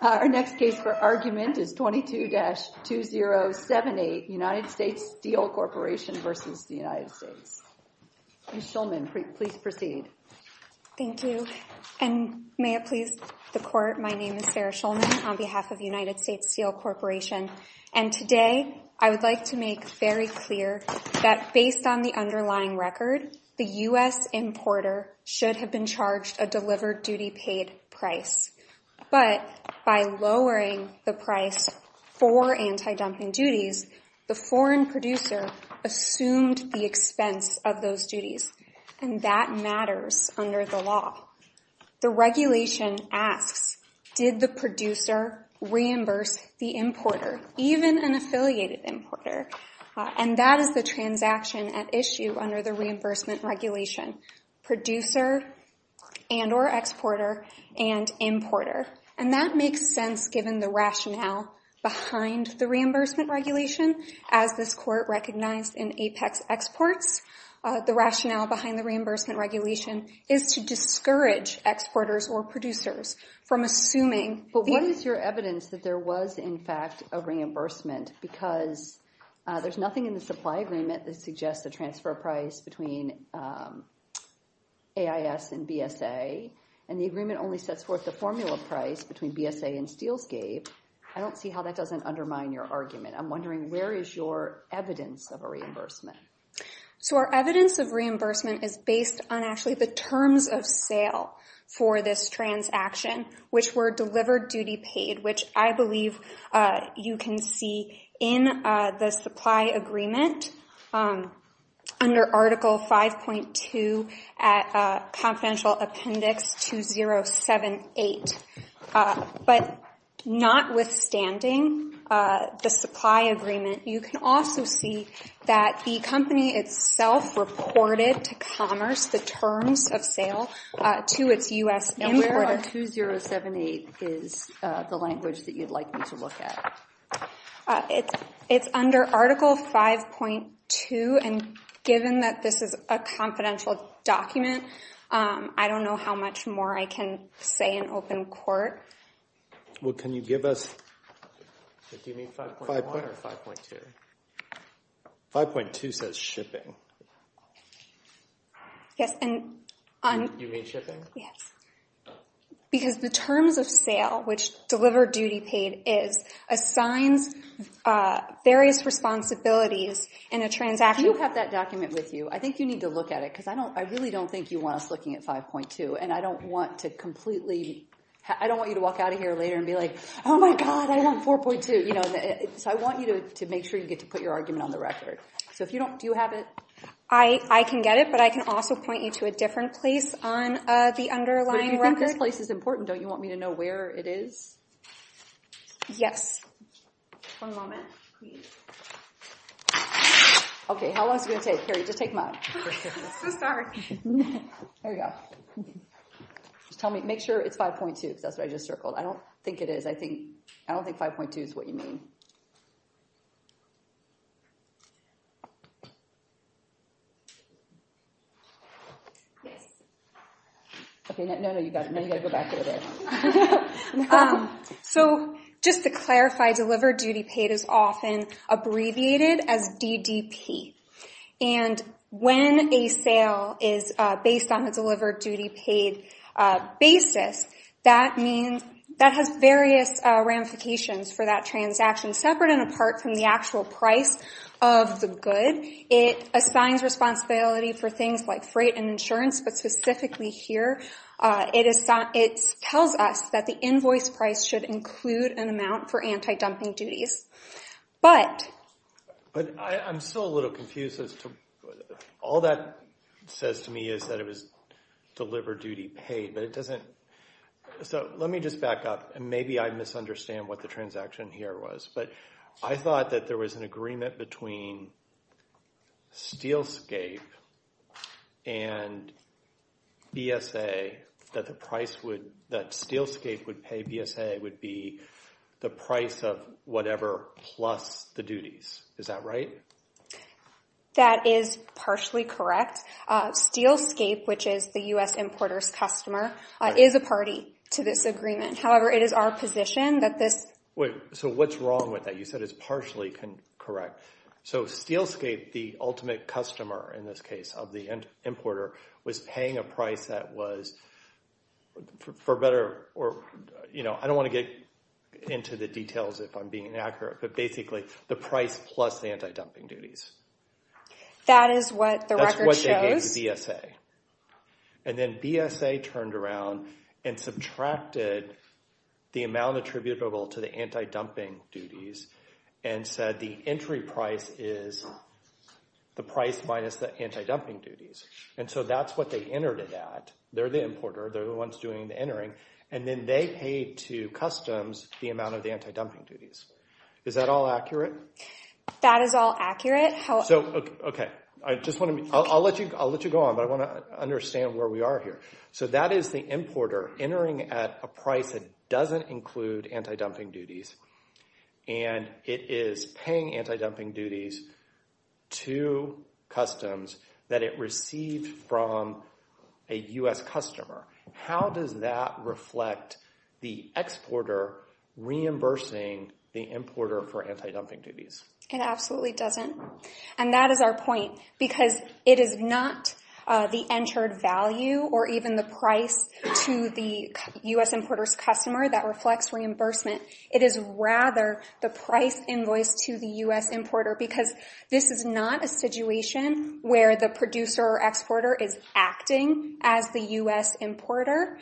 Our next case for argument is 22-2078 United States Steel Corporation v. United States. Ms. Shulman, please proceed. Thank you. And may it please the court, my name is Sarah Shulman on behalf of United States Steel Corporation. And today, I would like to make very clear that based on the underlying record, the U.S. importer should have been charged a delivered duty paid price. But by lowering the price for anti-dumping duties, the foreign producer assumed the expense of those duties. And that matters under the law. The regulation asks, did the producer reimburse the importer, even an affiliated importer? And that is the transaction at issue under the reimbursement regulation. Producer and or exporter and importer. And that makes sense given the rationale behind the reimbursement regulation. As this court recognized in Apex Exports, the rationale behind the reimbursement regulation is to discourage exporters or producers from assuming. But what is your evidence that there was, in fact, a reimbursement because there's nothing in the supply agreement that suggests the transfer price between AIS and BSA. And the agreement only sets forth the formula price between BSA and Steelscape. I don't see how that doesn't undermine your argument. I'm wondering where is your evidence of a reimbursement? So our evidence of reimbursement is based on actually the terms of sale for this transaction, which were delivered duty paid, which I believe you can see in the supply agreement under Article 5.2 at Confidential Appendix 2078. But notwithstanding the supply agreement, you can also see that the company itself reported to Commerce the terms of sale to its U.S. importer. And where on 2078 is the language that you'd like me to look at? It's under Article 5.2, and given that this is a confidential document, I don't know how much more I can say in open court. Well, can you give us... Do you mean 5.1 or 5.2? 5.2 says shipping. Yes, and... Do you mean shipping? Yes. Because the terms of sale, which delivered duty paid is, assigns various responsibilities in a transaction... We'll have that document with you. I think you need to look at it, because I really don't think you want us looking at 5.2, and I don't want to completely... I don't want you to walk out of here later and be like, oh my god, I want 4.2. So I want you to make sure you get to put your argument on the record. So if you don't... Do you have it? I can get it, but I can also point you to a different place on the underlying record. You think this place is important. Don't you want me to know where it is? Yes. One moment, please. Okay, how long is it going to take? Here, just take mine. So sorry. There you go. Just tell me... Make sure it's 5.2, because that's what I just circled. I don't think it is. I don't think 5.2 is what you mean. So just to clarify, delivered duty paid is often abbreviated as DDP, and when a sale is based on delivered duty paid basis, that means that has various ramifications for that transaction. Separate and apart from the actual price of the good, it assigns responsibility for things like freight and insurance, but specifically here, it tells us that the invoice price should include an amount for anti-dumping duties. But... But I'm still a little confused as to... All that says to me is that it was delivered duty paid, but it doesn't... So let me just back up, and maybe I misunderstand what the transaction here was, but I thought that there was an agreement between Steelscape and BSA that the price would... That Steelscape would pay BSA would be the price of whatever plus the duties. Is that right? That is partially correct. Steelscape, which is the U.S. importer's customer, is a party to this agreement. However, it is our position that this... Wait. So what's wrong with that? You said it's partially correct. So Steelscape, the ultimate customer in this case of the importer, was paying a price that was for better or... I don't want to get into the details if I'm being inaccurate, but basically the price plus the anti-dumping duties. That is what the record shows? That's what they gave to BSA. And then BSA turned around and subtracted the amount attributable to the anti-dumping duties and said the entry price is the price minus the anti-dumping duties. And so that's what they entered at. They're the importer. They're the ones doing the entering. And then they paid to customs the amount of the anti-dumping duties. Is that all accurate? That is all accurate. So, okay. I just want to... I'll let you go on, but I want to understand where we are here. So that is the importer entering at a price that doesn't include anti-dumping duties. And it is paying anti-dumping duties to customs that it received from a U.S. customer. How does that reflect the exporter reimbursing the importer for anti-dumping duties? It absolutely doesn't. And that is our point, because it is not the entered value or even the price to the U.S. importer's customer that reflects reimbursement. It is rather the acting as the U.S. importer.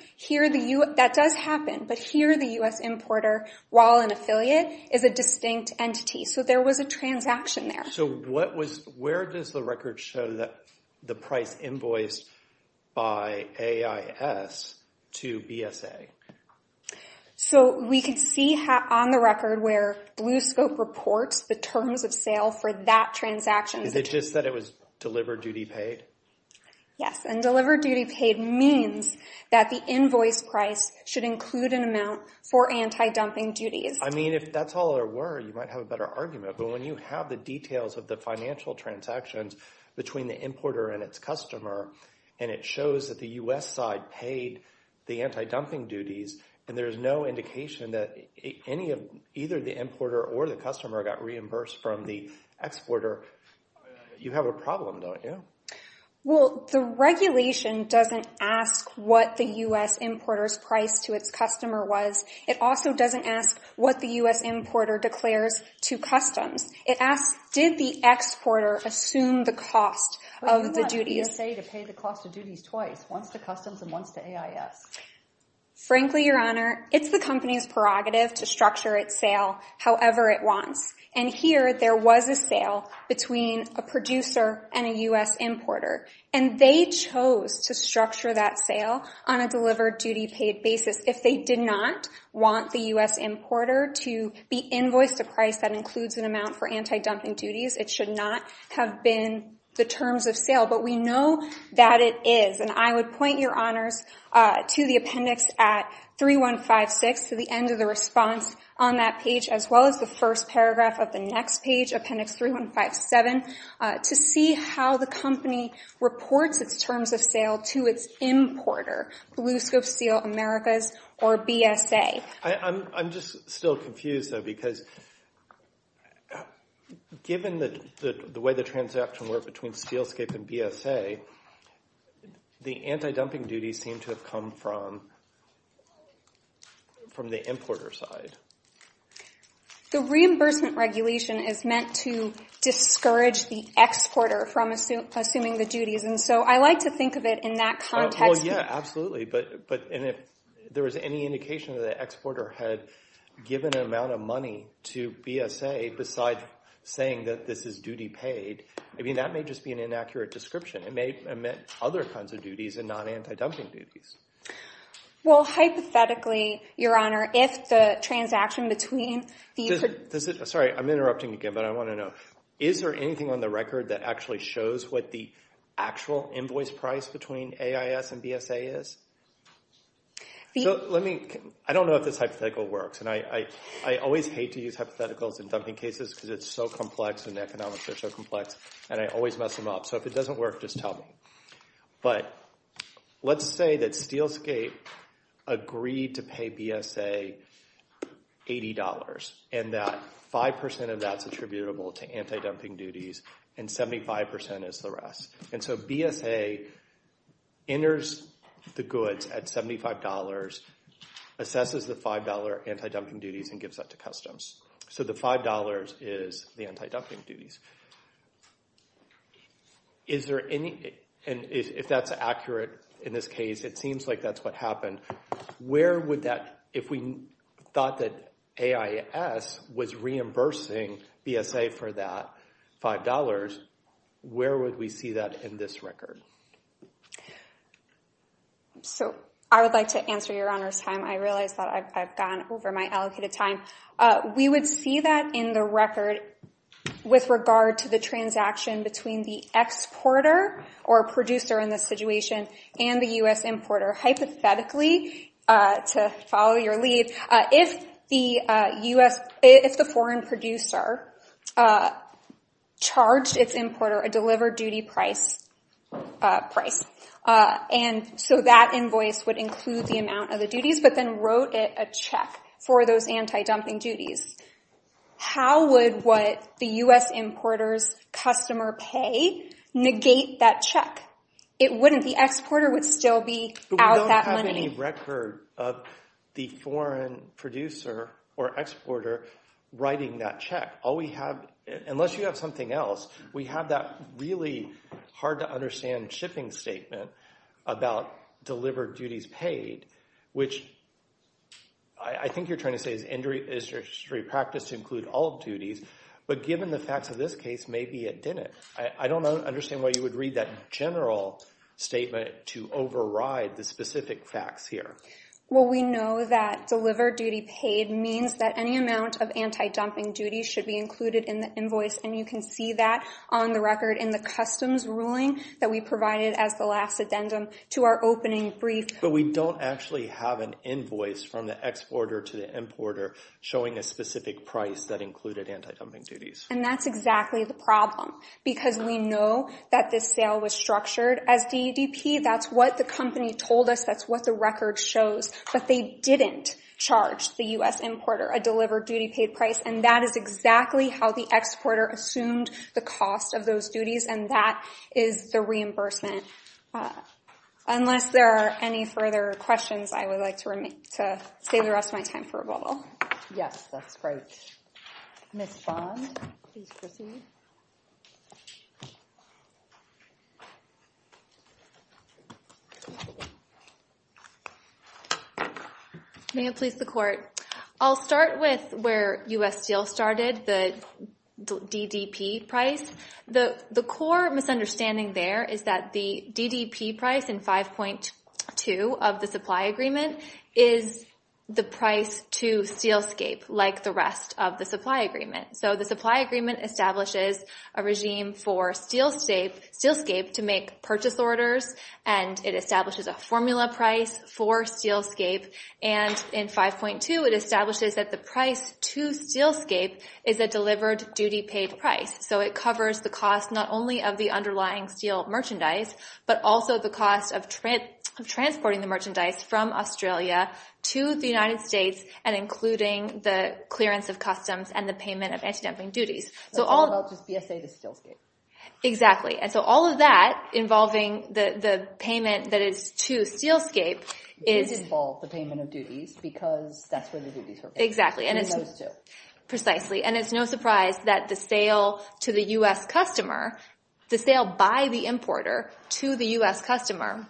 That does happen, but here the U.S. importer, while an affiliate, is a distinct entity. So there was a transaction there. So where does the record show that the price invoiced by AIS to BSA? So we can see on the record where Blue Scope reports the terms of sale for that transaction. Is it just that it was delivered duty paid? Yes. And delivered duty paid means that the invoice price should include an amount for anti-dumping duties. I mean, if that's all there were, you might have a better argument. But when you have the details of the financial transactions between the importer and its customer, and it shows that the U.S. side paid the anti-dumping duties, and there's no indication that either the importer or the customer got reimbursed from the regulation, it doesn't ask what the U.S. importer's price to its customer was. It also doesn't ask what the U.S. importer declares to customs. It asks, did the exporter assume the cost of the duties? But you want BSA to pay the cost of duties twice, once to customs and once to AIS. Frankly, Your Honor, it's the company's prerogative to structure its sale however it wants. And here there was a sale between a producer and a U.S. importer. And they chose to structure that sale on a delivered duty paid basis. If they did not want the U.S. importer to be invoiced a price that includes an amount for anti-dumping duties, it should not have been the terms of sale. But we know that it is. And I would point Your Honors to the appendix at 3156, to the end of the response on that page, as well as the first reports its terms of sale to its importer, Blue Scope Steel Americas or BSA. I'm just still confused, though, because given the way the transaction worked between Steelscape and BSA, the anti-dumping duties seem to have come from the importer side. The reimbursement regulation is meant to discourage the exporter from assuming the duties. And so I like to think of it in that context. Well, yeah, absolutely. But if there was any indication that the exporter had given an amount of money to BSA besides saying that this is duty paid, I mean, that may just be an inaccurate description. It may have meant other kinds of duties and not anti-dumping duties. Well, hypothetically, Your Honor, if the transaction between the- Sorry, I'm interrupting again, but I want to know, is there anything on the record that actually shows what the actual invoice price between AIS and BSA is? I don't know if this hypothetical works. And I always hate to use hypotheticals in dumping cases because it's so complex, and the economics are so complex, and I always mess them up. So if it doesn't work, just tell me. But let's say that Steelscape agreed to pay BSA $80, and that 5% of that's attributable to anti-dumping duties, and 75% is the rest. And so BSA enters the goods at $75, assesses the $5 anti-dumping duties, and gives that to customs. So the $5 is the anti-dumping duties. Is there any- and if that's accurate in this case, it seems like that's what happened. Where would that- if we thought that AIS was reimbursing BSA for that $5, where would we see that in this record? So I would like to answer Your Honor's time. I realize that I've gone over my allocated time. We would see that in the record with regard to the transaction between the exporter or producer in this situation and the U.S. importer, hypothetically, to follow your lead, if the foreign producer charged its importer a delivered duty price. And so that invoice would include the duties. How would what the U.S. importer's customer pay negate that check? It wouldn't. The exporter would still be out that money. But we don't have any record of the foreign producer or exporter writing that check. All we have, unless you have something else, we have that really hard to understand shipping statement about delivered duties paid, which I think you're trying to say is injury practice to include all duties. But given the facts of this case, maybe it didn't. I don't understand why you would read that general statement to override the specific facts here. Well, we know that delivered duty paid means that any amount of anti-dumping duties should be included in the invoice. And you can see that on the record in the customs ruling that we provided as the last addendum to our opening brief. But we don't actually have an invoice from the exporter to the importer showing a specific price that included anti-dumping duties. And that's exactly the problem because we know that this sale was structured as DEDP. That's what the company told us. That's what the record shows. But they didn't charge the U.S. importer a delivered duty paid price. And that is exactly how the exporter assumed the cost of those duties. And that is the reimbursement. Unless there are any further questions, I would like to save the rest of my time for a bubble. Yes, that's great. Ms. Bond, please proceed. May it please the court. I'll start with where U.S. Steel started, the DDP price. The core misunderstanding there is that the DDP price in 5.2 of the supply agreement is the price to Steelscape like the rest of the supply agreement. So the supply agreement establishes a regime for Steelscape to make purchase orders. And it establishes a formula price for Steelscape. And in 5.2, it establishes that the price to Steelscape is a delivered duty paid price. So it covers the cost not only of the underlying steel merchandise, but also the cost of transporting the merchandise from Australia to the United States and including the clearance of customs and the payment of anti-dumping duties. That's all about just BSA to Steelscape. Exactly. And so all of that involving the payment that is to Steelscape is... It does involve the payment of duties because that's where the duties are paid. Exactly. And it's... And those too. Precisely. And it's no surprise that the sale to the U.S. customer, the sale by the importer to the U.S. customer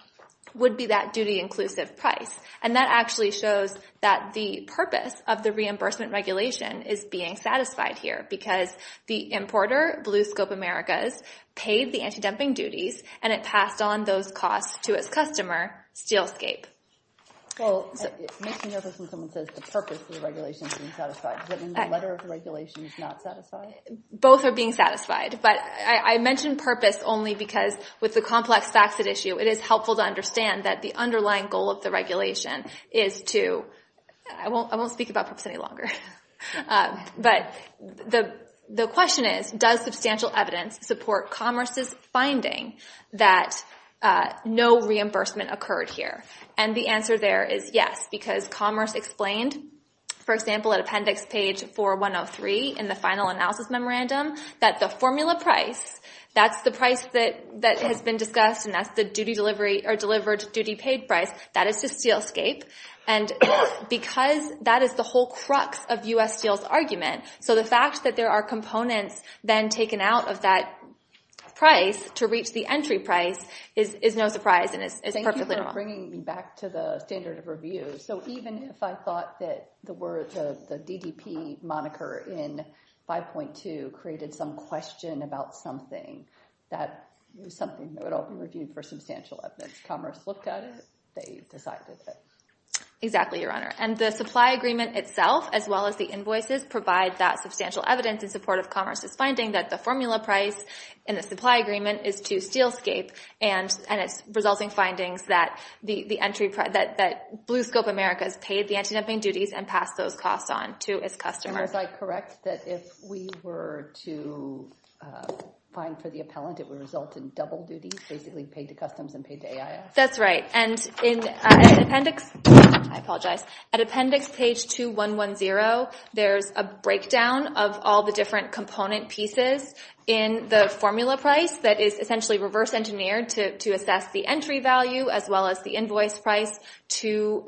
would be that duty inclusive price. And that actually shows that the purpose of the reimbursement regulation is being satisfied here because the importer, Blue Scope Americas, paid the anti-dumping duties and it passed on those costs to its customer, Steelscape. Well, it makes me nervous when someone says the purpose of the regulation is being satisfied. Does that mean the letter of the regulation is not satisfied? Both are being satisfied. But I mentioned purpose only because with the complex fax it issue, it is helpful to understand that the underlying goal of the regulation is to... I won't speak about purpose any longer. But the question is, does substantial evidence support Commerce's finding that no reimbursement occurred here? And the answer there is yes, because Commerce explained, for example, at appendix page 4103 in the final analysis memorandum, that the formula price, that's the price that has been discussed and that's the duty delivery or delivered duty paid price. That is to Steelscape. And because that is the whole crux of U.S. Steel's argument, so the fact that there are components then taken out of that price to reach the entry price is no surprise and it's perfectly normal. Thank you for bringing me back to the standard of review. So even if I thought that the word, the DDP moniker in 5.2 created some question about something that was something that would only be reviewed for substantial evidence, Commerce looked at it, they decided that. Exactly, Your Honor. And the supply agreement itself, as well as the invoices, provide that substantial evidence in support of Commerce's finding that the formula price in the supply agreement is to Steelscape and its resulting findings that Blue Scope Americas paid the anti-dumping duties and passed those costs on to its customers. Is I correct that if we were to find for the appellant, it would result in double duties, basically paid to Customs and paid to AIS? That's right. And in the appendix, I apologize, at appendix page 2110, there's a breakdown of all the different component pieces in the formula price that is essentially reverse engineered to assess the entry value as well as the invoice price to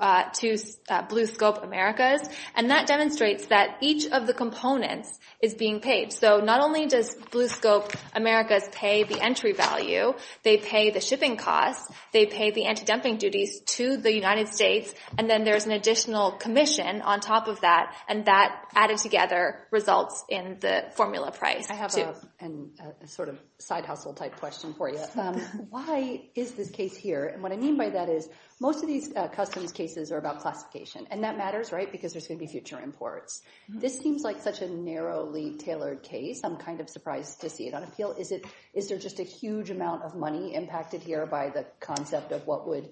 Blue Scope Americas. And that demonstrates that each of the components is being paid. So not only does Blue Scope Americas pay the entry value, they pay the shipping costs, they pay the anti-dumping duties to the United States, and then there's an additional commission on top of that, and that added together results in the formula price. I have a sort of side hustle type question for you. Why is this case here? And what I mean by that is most of these Customs cases are about classification, and that matters, right, because there's going to be future imports. This seems like such a narrowly tailored case. I'm kind of surprised to see it on appeal. Is it, is there just a huge amount of money impacted here by the concept of what would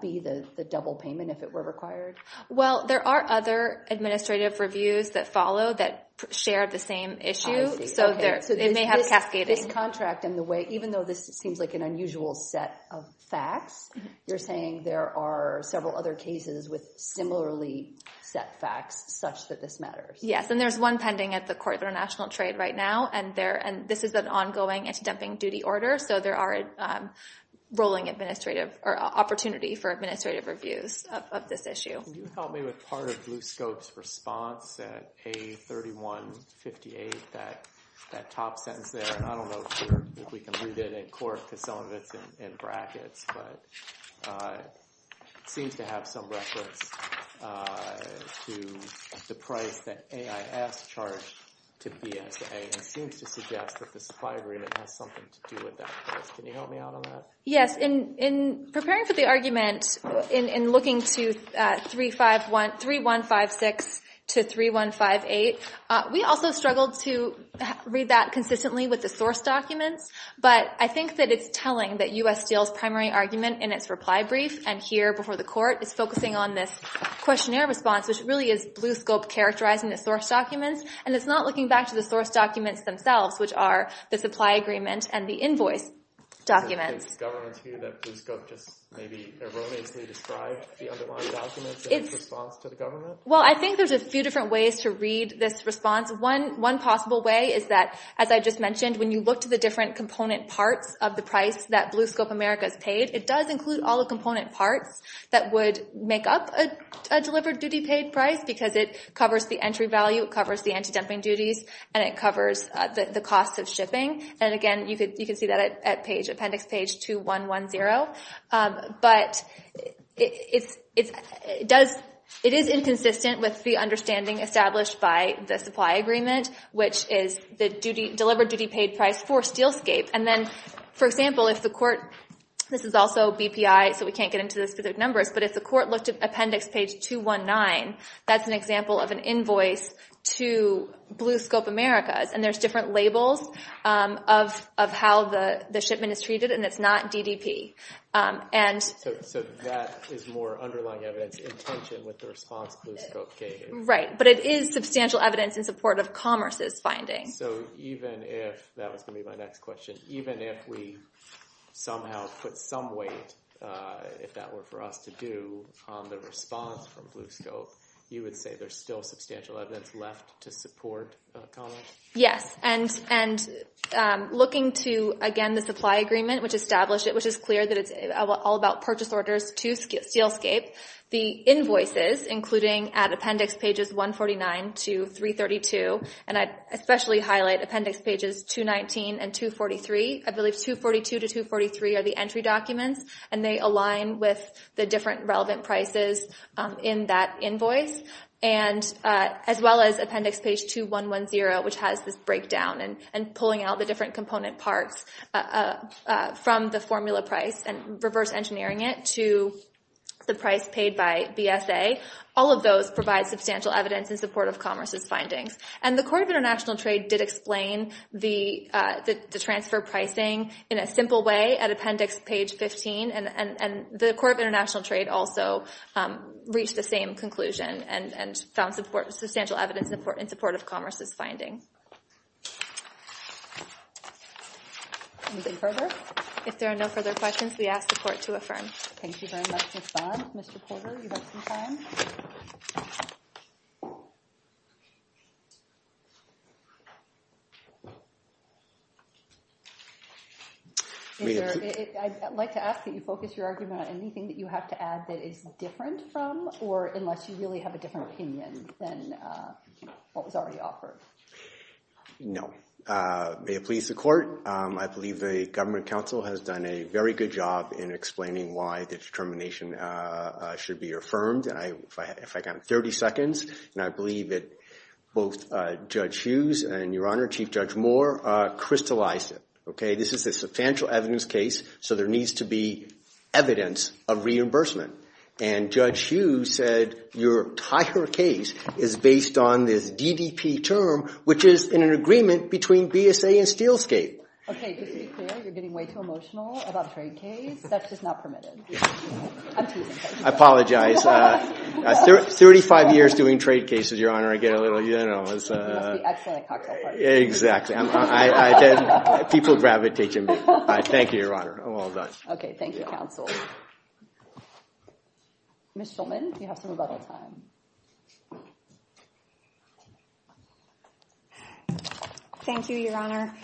be the double payment if it were required? Well, there are other administrative reviews that follow that share the same issue, so they may have cascading. This contract and the way, even though this seems like an unusual set of facts, you're saying there are several other cases with similarly set facts such that this matters? Yes, and there's one pending at the Court of International Trade right now, and there, and this is an ongoing anti-dumping duty order, so there are rolling administrative, or opportunity for administrative reviews of this issue. Can you help me out on that? Yes, in preparing for the argument, in looking to 3156 to 3158, we also struggled to read that consistently with the source documents, but I think that it's telling that U.S. Steel's primary argument in its reply brief, and here before the Court, is focusing on this questionnaire response, which really is Blue Scope characterizing the source documents, and it's not looking back to the source documents themselves, which are the supply agreement and the invoice documents. Governments view that Blue Scope just maybe erroneously described the underlying documents in its response to the government? Well, I think there's a few different ways to read this response. One possible way is that, as I just mentioned, when you look to the different component parts of the price that Blue Scope America is paid, it does include all the component parts that would make up a delivered duty paid price, because it covers the entry value, it covers the anti-dumping duties, and it covers the cost of shipping, and understanding established by the supply agreement, which is the delivered duty paid price for Steelscape. And then, for example, if the Court, this is also BPI, so we can't get into the specific numbers, but if the Court looked at Appendix Page 219, that's an example of an invoice to Blue Scope America, and there's different labels of how the shipment is treated, and it's not DDP. So that is more underlying evidence in tension with the response Blue Scope gave? Right, but it is substantial evidence in support of Commerce's finding. So even if, that was going to be my next question, even if we somehow put some weight, if that were for us to do, on the response from Blue Scope, you would say there's still substantial evidence left to support Commerce? Yes, and looking to, again, the supply agreement, which established it, which is clear that it's all about purchase orders to Steelscape, the invoices, including at Appendix Pages 149 to 332, and I especially highlight Appendix Pages 219 and 243. I believe 242 to 243 are the entry documents, and they align with the different relevant prices in that invoice, and as well as Appendix Page 2110, which has this breakdown and pulling out the different component parts from the formula price and reverse engineering it to the price paid by BSA. All of those provide substantial evidence in support of Commerce's findings, and the Court of International Trade did explain the transfer pricing in a simple way at Appendix Page 15, and the Court of International Trade found substantial evidence in support of Commerce's finding. If there are no further questions, we ask the Court to affirm. Thank you very much, Ms. Bond. Mr. Porter, you have some time. I'd like to ask that you focus your argument on anything that you have to add that is different from, or unless you really have a different opinion than what was already offered. No. May it please the Court, I believe the Government Council has done a very good job in explaining why the determination should be affirmed, and if I got 30 seconds, and I believe that both Judge Hughes and, Your Honor, Chief Judge Moore crystallized it, okay? This is a evidence of reimbursement, and Judge Hughes said your entire case is based on this DDP term, which is in an agreement between BSA and Steelscape. Okay, just to be clear, you're getting way too emotional about the trade case. That's just not permitted. I apologize. 35 years doing trade cases, Your Honor, I get a little, you know, it's... You must be excellent at cocktail parties. Exactly. People gravitate to me. Thank you, Your Honor. I'm all done. Okay, thank you, Counsel. Ms. Schulman, you have some rebuttal time. Thank you, Your Honor.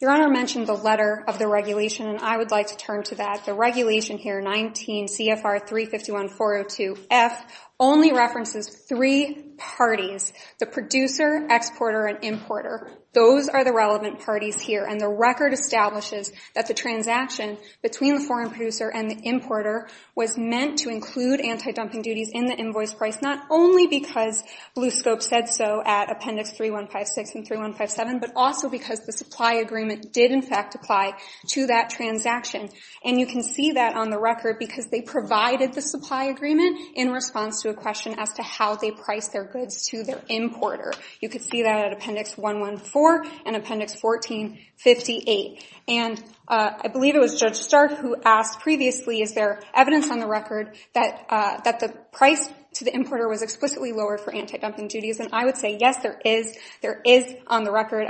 Your Honor mentioned the letter of the regulation, and I would like to turn to that. The regulation here, 19 CFR 351-402-F, only references three parties, the producer, exporter, and importer. Those are the relevant parties here, and the record establishes that the transaction between the foreign producer and the importer was meant to include anti-dumping duties in the invoice price, not only because Blue Scope said so at Appendix 3156 and 3157, but also because the supply agreement did, in fact, apply to that transaction, and you can see that on the record because they provided the supply agreement in response to a question as to how they priced their goods to their importer. You can see that at Appendix 114 and Appendix 1458, and I believe it was Judge Stark who asked previously, is there evidence on the record that the price to the importer was explicitly lowered for anti-dumping duties, and I would say, yes, there is. There is on the record.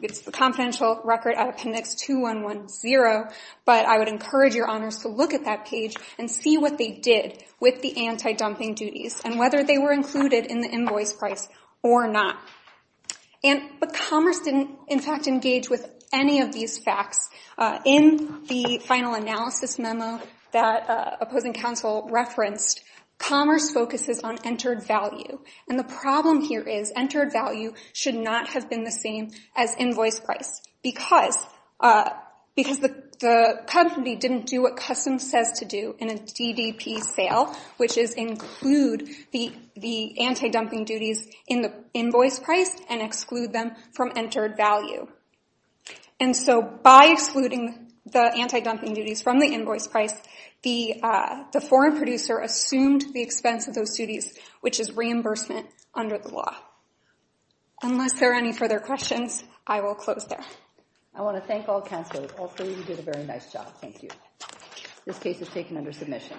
It's the confidential record at Appendix 2110, but I would encourage Your Honors to look at that page and see what they did with the anti-dumping duties and whether they were included in the invoice price or not. But Commerce didn't, in fact, engage with any of these facts. In the final analysis memo that opposing counsel referenced, Commerce focuses on entered value, and the problem here is entered value should not have been the same as invoice price because the company didn't do what Customs says to do in a DDP sale, which is include the anti-dumping duties in the invoice price and exclude them from entered value. And so by excluding the anti-dumping duties from the invoice price, the foreign producer assumed the expense of those duties, which is reimbursement under the law. Unless there are any further questions, I will close there. I want to thank all counsel. Also, you did a very nice job. Thank you. This case is taken under submission.